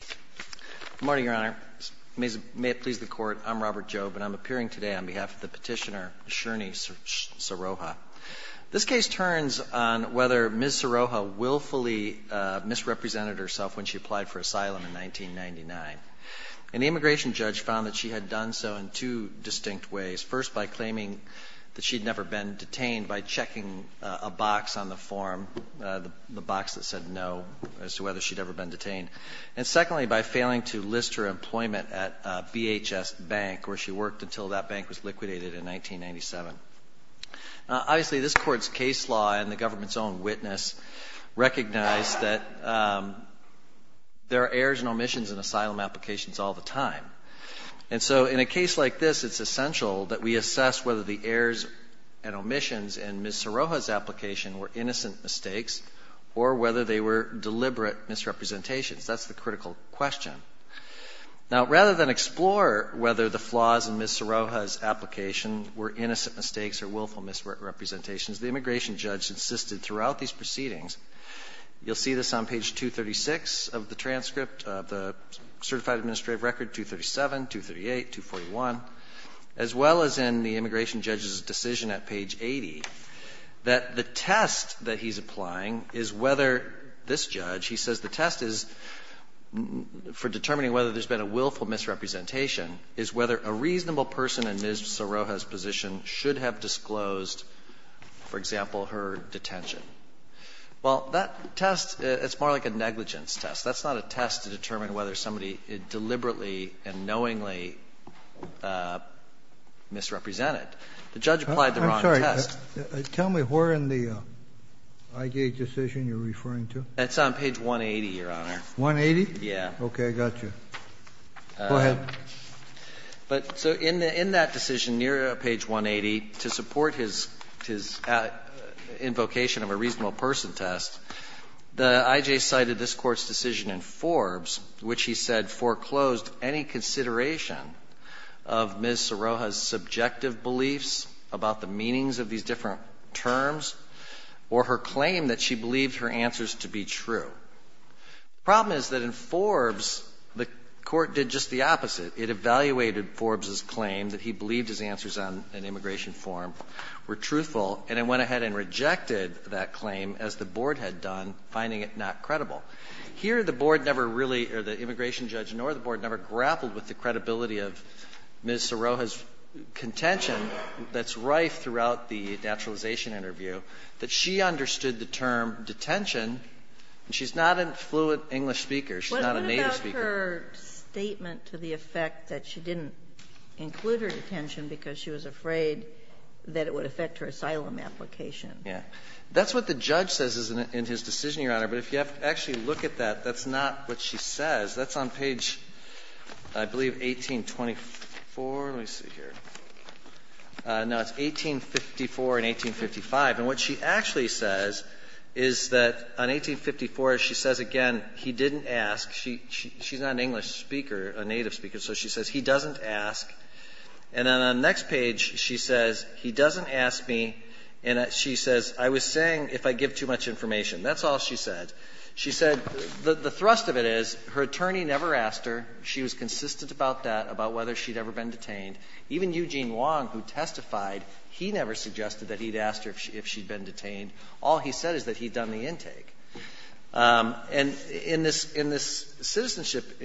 Good morning, Your Honor. May it please the Court, I'm Robert Jobe, and I'm appearing today on behalf of the petitioner Sherny Saroha. This case turns on whether Ms. Saroha willfully misrepresented herself when she applied for asylum in 1999. An immigration judge found that she had done so in two distinct ways. First, by claiming that she'd never been detained by checking a box on the form, the box that said no, as to whether she'd ever been detained. And secondly, by failing to list her employment at a VHS bank where she worked until that bank was liquidated in 1997. Obviously, this Court's case law and the government's own witness recognize that there are errors and omissions in asylum applications all the time. And so in a case like this, it's essential that we assess whether the errors and omissions in Ms. Saroha's application were innocent mistakes or whether they were deliberate misrepresentations. That's the critical question. Now, rather than explore whether the flaws in Ms. Saroha's application were innocent mistakes or willful misrepresentations, the immigration judge insisted throughout these proceedings, you'll see this on page 236 of the transcript, the Certified Administrative Record, 237, 238, 241, as well as in the immigration judge's decision at page 80, that the test that he's applying is whether this judge, he says the test is, for determining whether there's been a willful misrepresentation, is whether a reasonable person in Ms. Saroha's position should have disclosed, for example, her detention. Well, that test, it's more like a negligence test. That's not a test to determine whether somebody deliberately and knowingly misrepresented. The judge applied the wrong test. Kennedy, I'm sorry. Tell me where in the IJ decision you're referring to. That's on page 180, Your Honor. 180? Yeah. Okay. I got you. Go ahead. But so in that decision near page 180, to support his invocation of a reasonable person test, the IJ cited this Court's decision in Forbes, which he said foreclosed any consideration of Ms. Saroha's subjective beliefs about the meanings of these different terms or her claim that she believed her answers to be true. The problem is that in Forbes, the Court did just the opposite. It evaluated Forbes's claim that he believed his answers on an immigration form were truthful, and it went ahead and rejected that claim, as the Board had done, finding it not credible. Here the Board never really, or the immigration judge nor the Board, never grappled with the credibility of Ms. Saroha's contention that's rife throughout the naturalization interview, that she understood the term detention, and she's not a fluent English speaker, she's not a native speaker. What about her statement to the effect that she didn't include her detention because she was afraid that it would affect her asylum application? That's what the judge says is in his decision, Your Honor, but if you have to actually look at that, that's not what she says. That's on page, I believe, 1824. Let me see here. No, it's 1854 and 1855. And what she actually says is that on 1854, she says again, he didn't ask. She's not an English speaker, a native speaker, so she says he doesn't ask. And then on the next page, she says, he doesn't ask me, and she says, I was saying if I give too much information. That's all she said. She said the thrust of it is her attorney never asked her. She was consistent about that, about whether she'd ever been detained. Even Eugene Wong, who testified, he never suggested that he'd asked her if she'd been detained. All he said is that he'd done the intake. And in this citizenship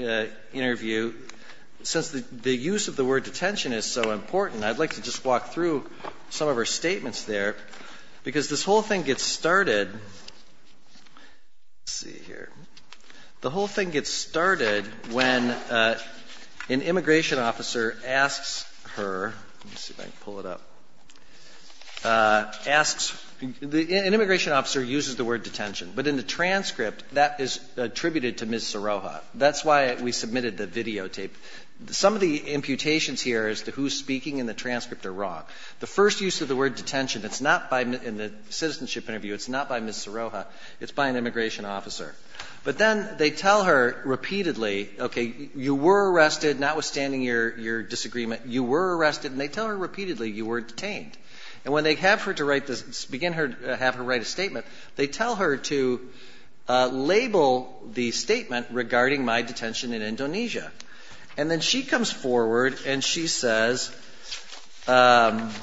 interview, since the use of the word detention is so important, I'd like to just walk through some of her statements there, because this whole thing gets started, let's see here, the whole thing gets started when an immigration officer asks her, let me see if I can pull it up, asks, an immigration officer uses the word detention. But in the transcript, that is attributed to Ms. Serroja. That's why we submitted the videotape. Some of the imputations here as to who's speaking in the transcript are wrong. The first use of the word detention, it's not by, in the citizenship interview, it's not by Ms. Serroja. It's by an immigration officer. But then they tell her repeatedly, okay, you were arrested, notwithstanding your disagreement, you were arrested. And they tell her repeatedly, you were detained. And when they have her to write this, begin her, have her write a statement, they tell her to label the statement regarding my detention in Indonesia. And then she comes forward and she says, and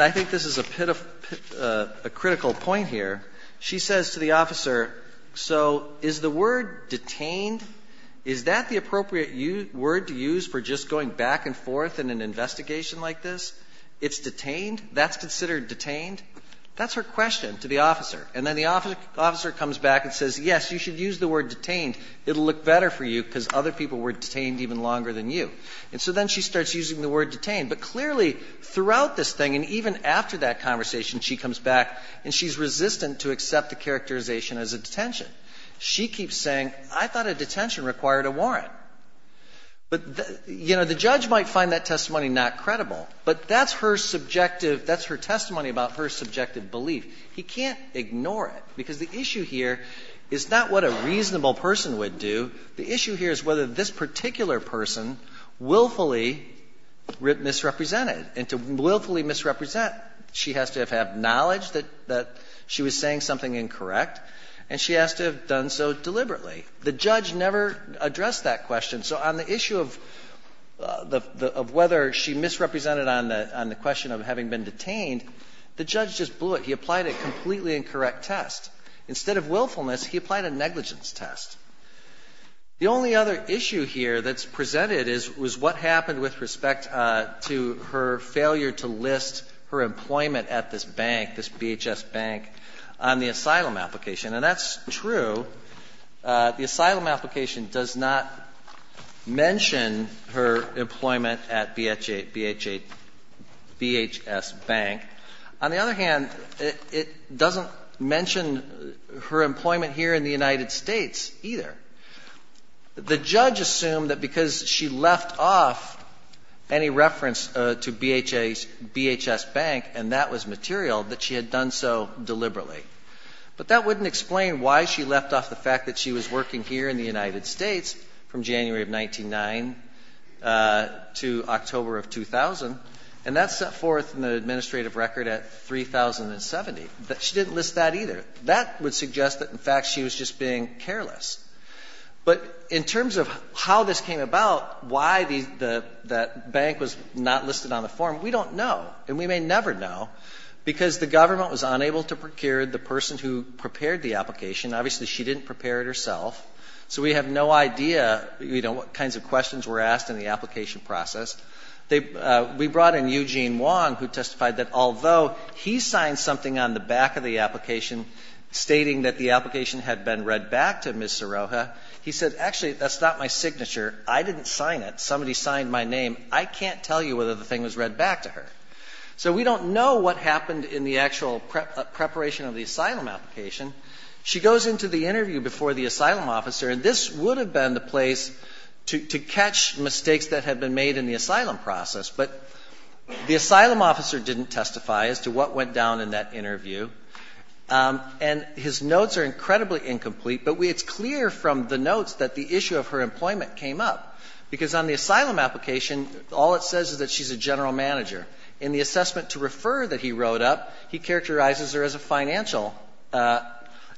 I think this is a critical point here, she says to the officer, so is the word detained, is that the appropriate word to use for just going back and forth in an investigation like this? It's detained? That's considered detained? That's her question to the officer. And then the officer comes back and says, yes, you should use the word detained. It'll look better for you because other people were detained even longer than you. And so then she starts using the word detained. But clearly, throughout this thing and even after that conversation, she comes back and she's resistant to accept the characterization as a detention. She keeps saying, I thought a detention required a warrant. But, you know, the judge might find that testimony not credible. But that's her subjective – that's her testimony about her subjective belief. He can't ignore it, because the issue here is not what a reasonable person would do. The issue here is whether this particular person willfully misrepresented. And to willfully misrepresent, she has to have had knowledge that she was saying something incorrect, and she has to have done so deliberately. The judge never addressed that question. So on the issue of whether she misrepresented on the question of having been detained, the judge just blew it. He applied a completely incorrect test. Instead of willfulness, he applied a negligence test. The only other issue here that's presented is what happened with respect to her failure to list her employment at this bank, this BHS bank, on the asylum application. And that's true. The asylum application does not mention her employment at BHA – BHS Bank. On the other hand, it doesn't mention her employment here in the United States either. The judge assumed that because she left off any reference to BHS Bank, and that was material, that she had done so deliberately. But that wouldn't explain why she left off the fact that she was working here in the United States from January of 1909 to October of 2000. And that's set forth in the administrative record at 3070. She didn't list that either. That would suggest that, in fact, she was just being careless. But in terms of how this came about, why that bank was not listed on the form, we don't know. And we may never know, because the government was unable to procure the person who prepared the application. Obviously, she didn't prepare it herself. So we have no idea, you know, what kinds of questions were asked in the application process. They – we brought in Eugene Wong, who testified that although he signed something on the back of the application stating that the application had been read back to Ms. Siroha, he said, actually, that's not my signature. I didn't sign it. Somebody signed my name. I can't tell you whether the thing was read back to her. So we don't know what happened in the actual preparation of the asylum application. She goes into the interview before the asylum officer. And this would have been the place to catch mistakes that had been made in the asylum process. But the asylum officer didn't testify as to what went down in that interview. And his notes are incredibly incomplete, but it's clear from the notes that the issue of her employment came up, because on the asylum application, all it says is that she's a general manager. In the assessment to refer that he wrote up, he characterizes her as a financial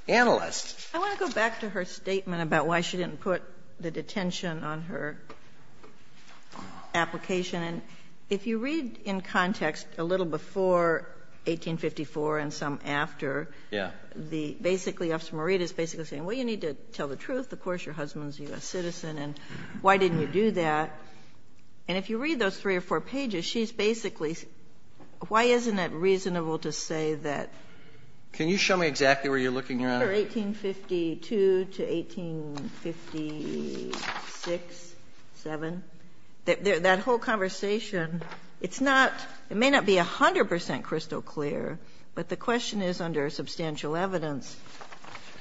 analyst. Sotomayor, I want to go back to her statement about why she didn't put the detention on her application. And if you read in context a little before 1854 and some after, the – basically, Officer Morita is basically saying, well, you need to tell the truth. Of course, your husband is a U.S. citizen, and why didn't you do that? And if you read those three or four pages, she's basically – why isn't it reasonable to say that – Can you show me exactly where you're looking, Your Honor? Under 1852 to 1856, 7, that whole conversation, it's not – it may not be 100 percent crystal clear, but the question is, under substantial evidence,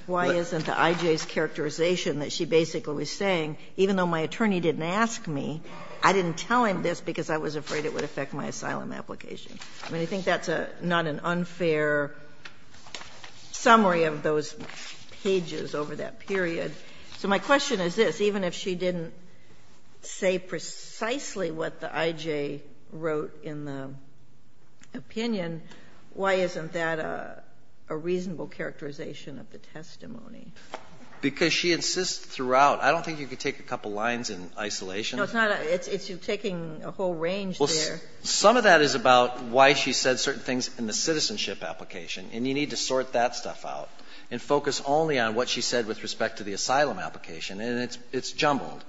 why isn't the I.J.'s characterization that she basically was saying, even though my attorney didn't ask me, I didn't tell him this because I was afraid it would affect my asylum application? I mean, I think that's a – not an unfair summary of those pages over that period. So my question is this. Even if she didn't say precisely what the I.J. wrote in the opinion, why isn't that a reasonable characterization of the testimony? Because she insists throughout – I don't think you could take a couple lines in isolation. No, it's not a – it's you taking a whole range there. Well, some of that is about why she said certain things in the citizenship application, and you need to sort that stuff out and focus only on what she said with respect to the asylum application, and it's jumbled.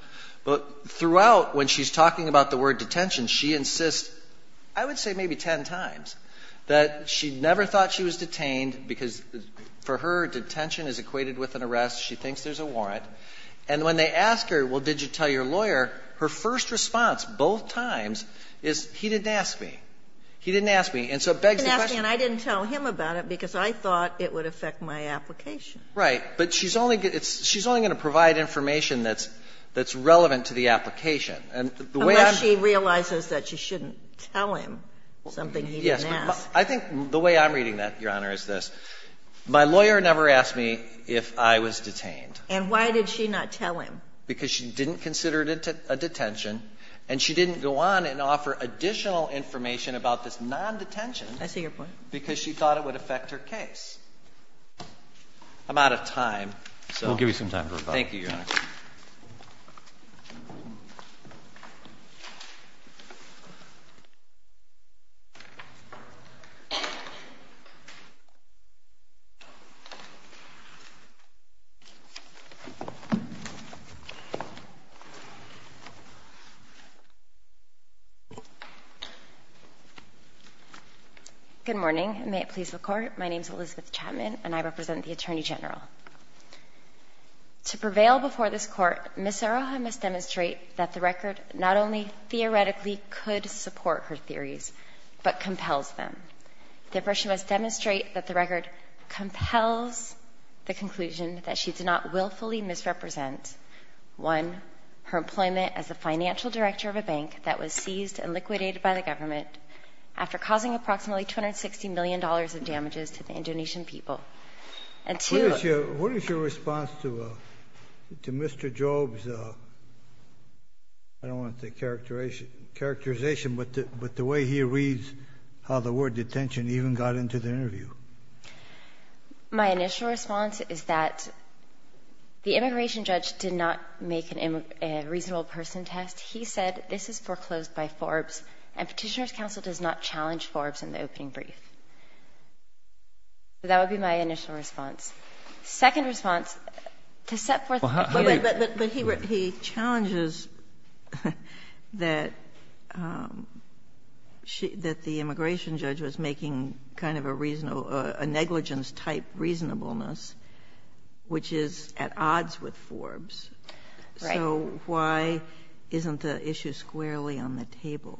But throughout, when she's talking about the word detention, she insists, I would say maybe ten times, that she never thought she was detained because, for her, detention is equated with an arrest, she thinks there's a warrant. And when they ask her, well, did you tell your lawyer, her first response, both times, is he didn't ask me. He didn't ask me, and so it begs the question of the question of the question. He didn't ask me, and I didn't tell him about it because I thought it would affect my application. Right. But she's only going to provide information that's relevant to the application. And the way I'm going to tell you this, Your Honor, is this. My lawyer never asked me if I was detained. And why did she not tell him? Because she didn't consider it a detention, and she didn't go on and offer additional information about this non-detention. I see your point. Because she thought it would affect her case. I'm out of time, so. We'll give you some time for rebuttal. Thank you, Your Honor. Good morning, and may it please the Court, my name is Elizabeth Chapman, and I represent the Attorney General. To prevail before this Court, Ms. Seroha must demonstrate that the record not only theoretically could support her theories, but compels them. Therefore, she must demonstrate that the record compels the conclusion that she did not willfully misrepresent, one, her employment as the financial director of a bank that was seized and liquidated by the government after causing approximately $260 million of damages to the Indonesian people. And two ---- What is your response to Mr. Job's, I don't want to say characterization, but the way he reads how the word detention even got into the interview? My initial response is that the immigration judge did not make a reasonable person test. He said, this is foreclosed by Forbes, and Petitioner's counsel does not challenge Forbes in the opening brief. So that would be my initial response. Second response, to set forth the case ---- But he challenges that the immigration judge was making kind of a negligence-type reasonableness, which is at odds with Forbes. Right. So why isn't the issue squarely on the table?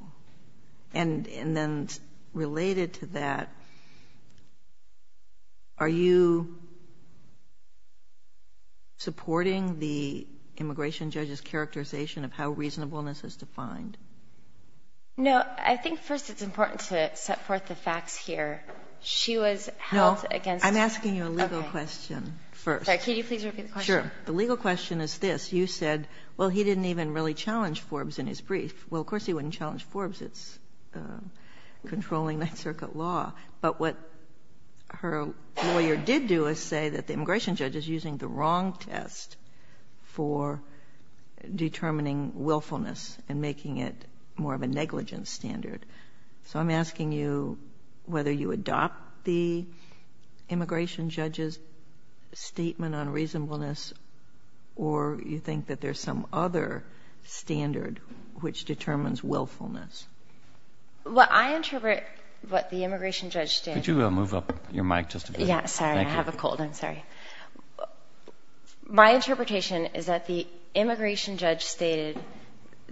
And then related to that, are you supporting the immigration judge's characterization of how reasonableness is defined? No, I think first it's important to set forth the facts here. She was held against ---- No, I'm asking you a legal question first. Sorry, can you please repeat the question? Sure. The legal question is this. You said, well, he didn't even really challenge Forbes in his brief. Well, of course, he wouldn't challenge Forbes. It's controlling Ninth Circuit law. But what her lawyer did do is say that the immigration judge is using the wrong test for determining willfulness and making it more of a negligence standard. So I'm asking you whether you adopt the immigration judge's statement on reasonableness or you think that there's some other standard which determines willfulness. Well, I interpret what the immigration judge did ---- Could you move up your mic just a bit? Yes. Sorry, I have a cold. I'm sorry. My interpretation is that the immigration judge stated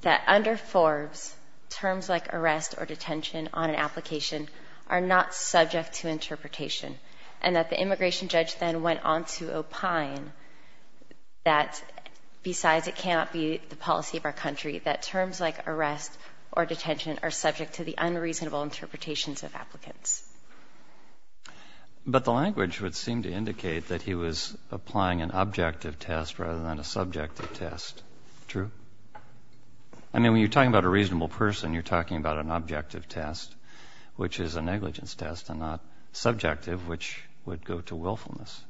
that under Forbes, terms like arrest or detention on an application are not subject to interpretation, and that the immigration judge then went on to opine that besides it cannot be the policy of our country, that terms like arrest or detention are subject to the unreasonable interpretations of applicants. But the language would seem to indicate that he was applying an objective test rather than a subjective test. True? I mean, when you're talking about a reasonable person, you're talking about an objective test, which is a negligence test and not subjective, which would go to willfulness.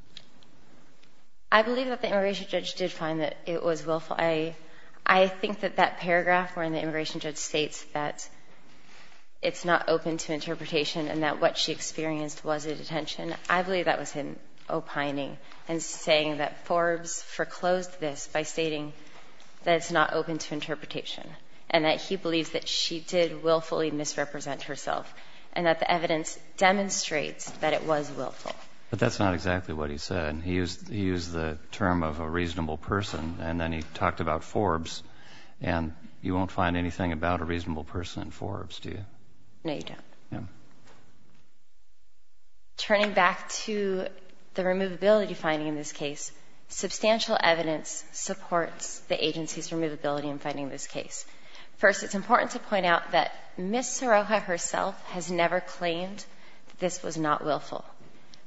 I believe that the immigration judge did find that it was willful. I think that that paragraph where the immigration judge states that it's not open to interpretation and that what she experienced was a detention, I believe that was him opining and saying that Forbes foreclosed this by stating that it's not open to interpretation and that he believes that she did willfully misrepresent herself and that the evidence demonstrates that it was willful. But that's not exactly what he said. He used the term of a reasonable person, and then he talked about Forbes. And you won't find anything about a reasonable person in Forbes, do you? No, you don't. No. Turning back to the removability finding in this case, substantial evidence supports the agency's removability in finding this case. First, it's important to point out that Ms. Serroja herself has never claimed that this was not willful.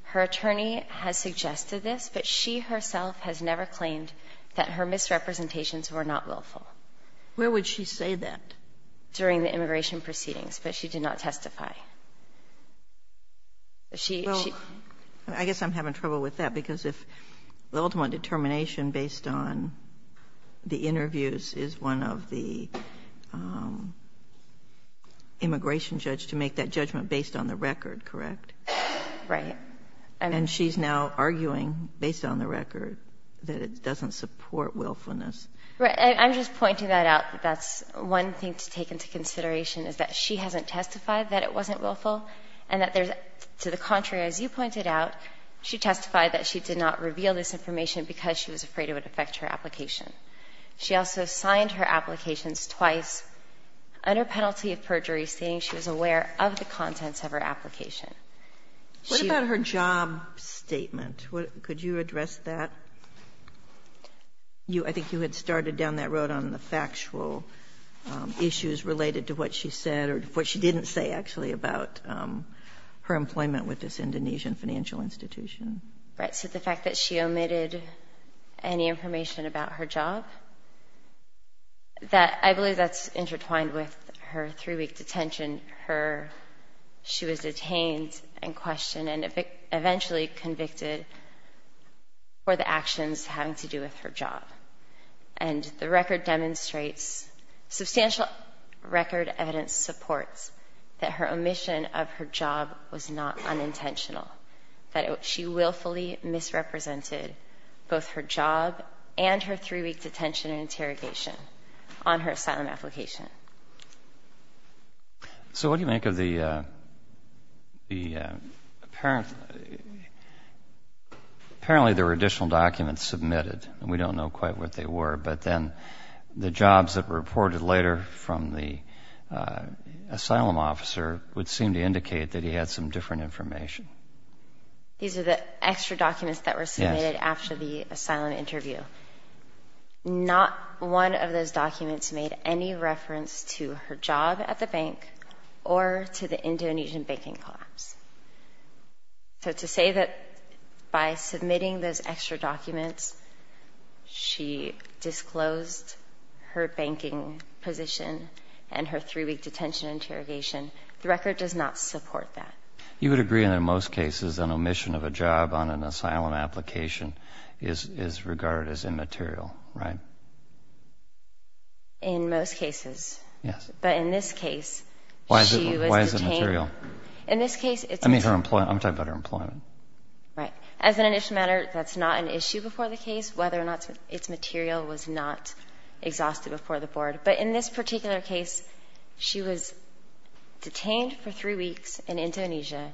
Her attorney has suggested this, but she herself has never claimed that her misrepresentations were not willful. Where would she say that? During the immigration proceedings. But she did not testify. She — Well, I guess I'm having trouble with that, because if the ultimate determination based on the interviews is one of the immigration judge to make that judgment based on the record, correct? Right. And she's now arguing, based on the record, that it doesn't support willfulness. Right. I'm just pointing that out, that that's one thing to take into consideration, is that she hasn't testified that it wasn't willful and that there's — to the contrary, as you pointed out, she testified that she did not reveal this information because she was afraid it would affect her application. She also signed her applications twice under penalty of perjury, saying she was aware of the contents of her application. What about her job statement? Could you address that? I think you had started down that road on the factual issues related to what she said or what she didn't say, actually, about her employment with this Indonesian financial institution. Right. So the fact that she omitted any information about her job, that — I believe that's intertwined with her three-week detention, her — she was detained and questioned and eventually convicted for the actions having to do with her job. And the record demonstrates — substantial record evidence supports that her omission of her job was not unintentional, that she willfully misrepresented both her job and her three-week detention and interrogation on her asylum application. So what do you make of the — apparently there were additional documents submitted. We don't know quite what they were. But then the jobs that were reported later from the asylum officer would seem to indicate that he had some different information. These are the extra documents that were submitted after the asylum interview. Not one of those documents made any reference to her job at the bank or to the Indonesian banking collapse. So to say that by submitting those extra documents, she disclosed her banking position and her three-week detention interrogation, the record does not support that. You would agree, in most cases, an omission of a job on an asylum application is regarded as immaterial, right? In most cases. Yes. But in this case, she was detained — Why is it material? In this case, it's — I mean her employment. I'm talking about her employment. Right. As an initial matter, that's not an issue before the case, whether or not it's material was not exhausted before the board. But in this particular case, she was detained for three weeks in Indonesia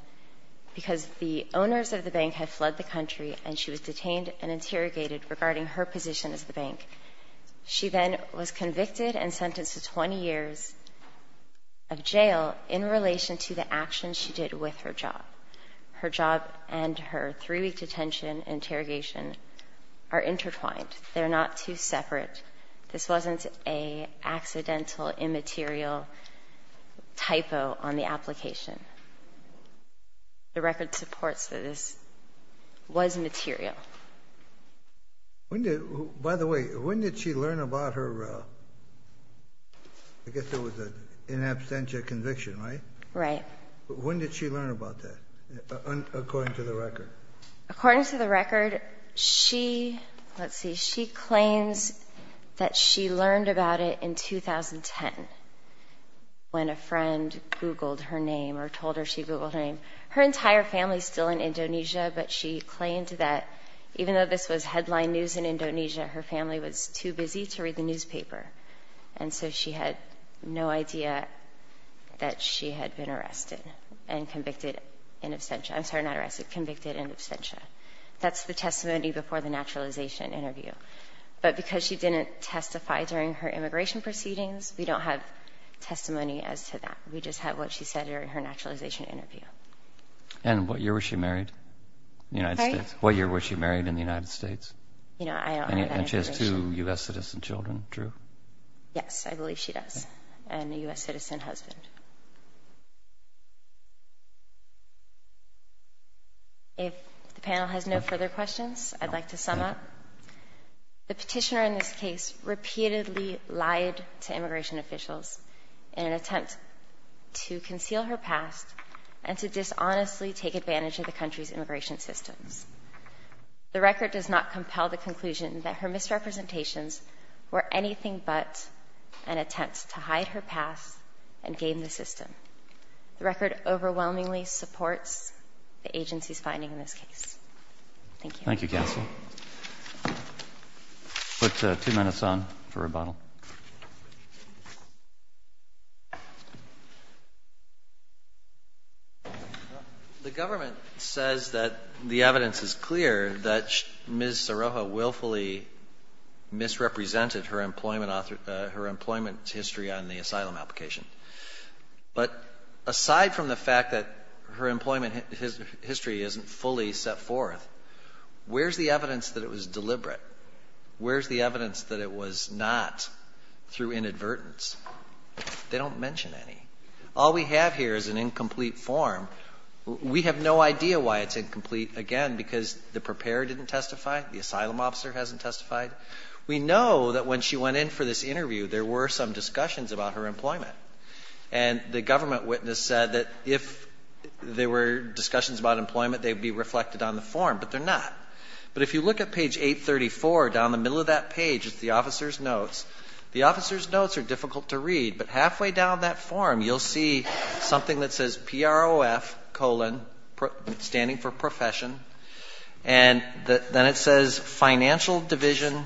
because the owners of the bank had fled the country and she was detained and interrogated regarding her position as the bank. She then was convicted and sentenced to 20 years of jail in relation to the actions she did with her job. Her job and her three-week detention interrogation are intertwined. They're not two separate. This wasn't an accidental, immaterial typo on the application. The record supports that this was material. When did — by the way, when did she learn about her — I guess there was an in absentia conviction, right? Right. But when did she learn about that, according to the record? According to the record, she — let's see — she claims that she learned about it in 2010 when a friend Googled her name or told her she Googled her name. Her entire family is still in Indonesia, but she claimed that even though this was headline news in Indonesia, her family was too busy to read the newspaper. And so she had no idea that she had been arrested and convicted in absentia. I'm sorry, not arrested, convicted in absentia. That's the testimony before the naturalization interview. But because she didn't testify during her immigration proceedings, we don't have testimony as to that. We just have what she said during her naturalization interview. And what year was she married? The United States. What year was she married in the United States? You know, I don't have that information. And she has two U.S. citizen children, true? Yes, I believe she does, and a U.S. citizen husband. If the panel has no further questions, I'd like to sum up. The petitioner in this case repeatedly lied to immigration officials in an attempt to honestly take advantage of the country's immigration systems. The record does not compel the conclusion that her misrepresentations were anything but an attempt to hide her past and game the system. The record overwhelmingly supports the agency's finding in this case. Thank you. Put two minutes on for rebuttal. The government says that the evidence is clear that Ms. Soroja willfully misrepresented her employment history on the asylum application. But aside from the fact that her employment history isn't fully set forth, where's the evidence that it was deliberate? Where's the evidence that it was not through inadvertence? They don't mention any. All we have here is an incomplete form. We have no idea why it's incomplete, again, because the preparer didn't testify, the asylum officer hasn't testified. We know that when she went in for this interview, there were some discussions about her employment. And the government witness said that if there were discussions about employment, they would be reflected on the form, but they're not. But if you look at page 834, down the middle of that page, it's the officer's notes. The officer's notes are difficult to read, but halfway down that form, you'll see something that says PROF colon, standing for profession, and then it says financial division,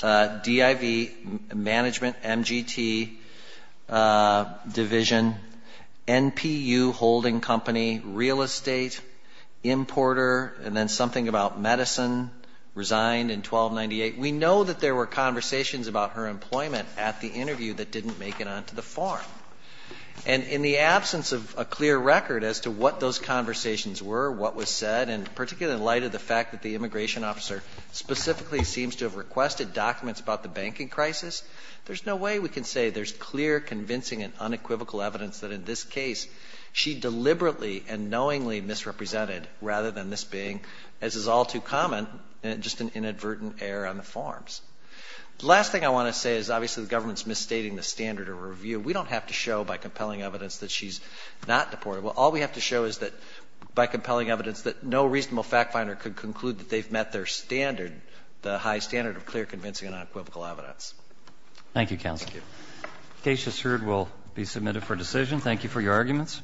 DIV, management, MGT division, NPU holding company, real estate, importer, and then something about medicine, resigned in 1298. We know that there were conversations about her employment at the interview that didn't make it onto the form. And in the absence of a clear record as to what those conversations were, what was said, and particularly in light of the fact that the immigration officer specifically seems to have requested documents about the banking crisis, there's no way we can say there's clear, convincing, and unequivocal evidence that in this case, she deliberately and knowingly misrepresented, rather than this being, as is all too common, just an inadvertent error on the forms. The last thing I want to say is obviously the government's misstating the standard of review. We don't have to show by compelling evidence that she's not deportable. All we have to show is that by compelling evidence that no reasonable fact finder could conclude that they've met their standard, the high standard of clear, convincing, and unequivocal evidence. Roberts. Thank you, counsel. Thank you. Case just heard will be submitted for decision. Thank you for your arguments.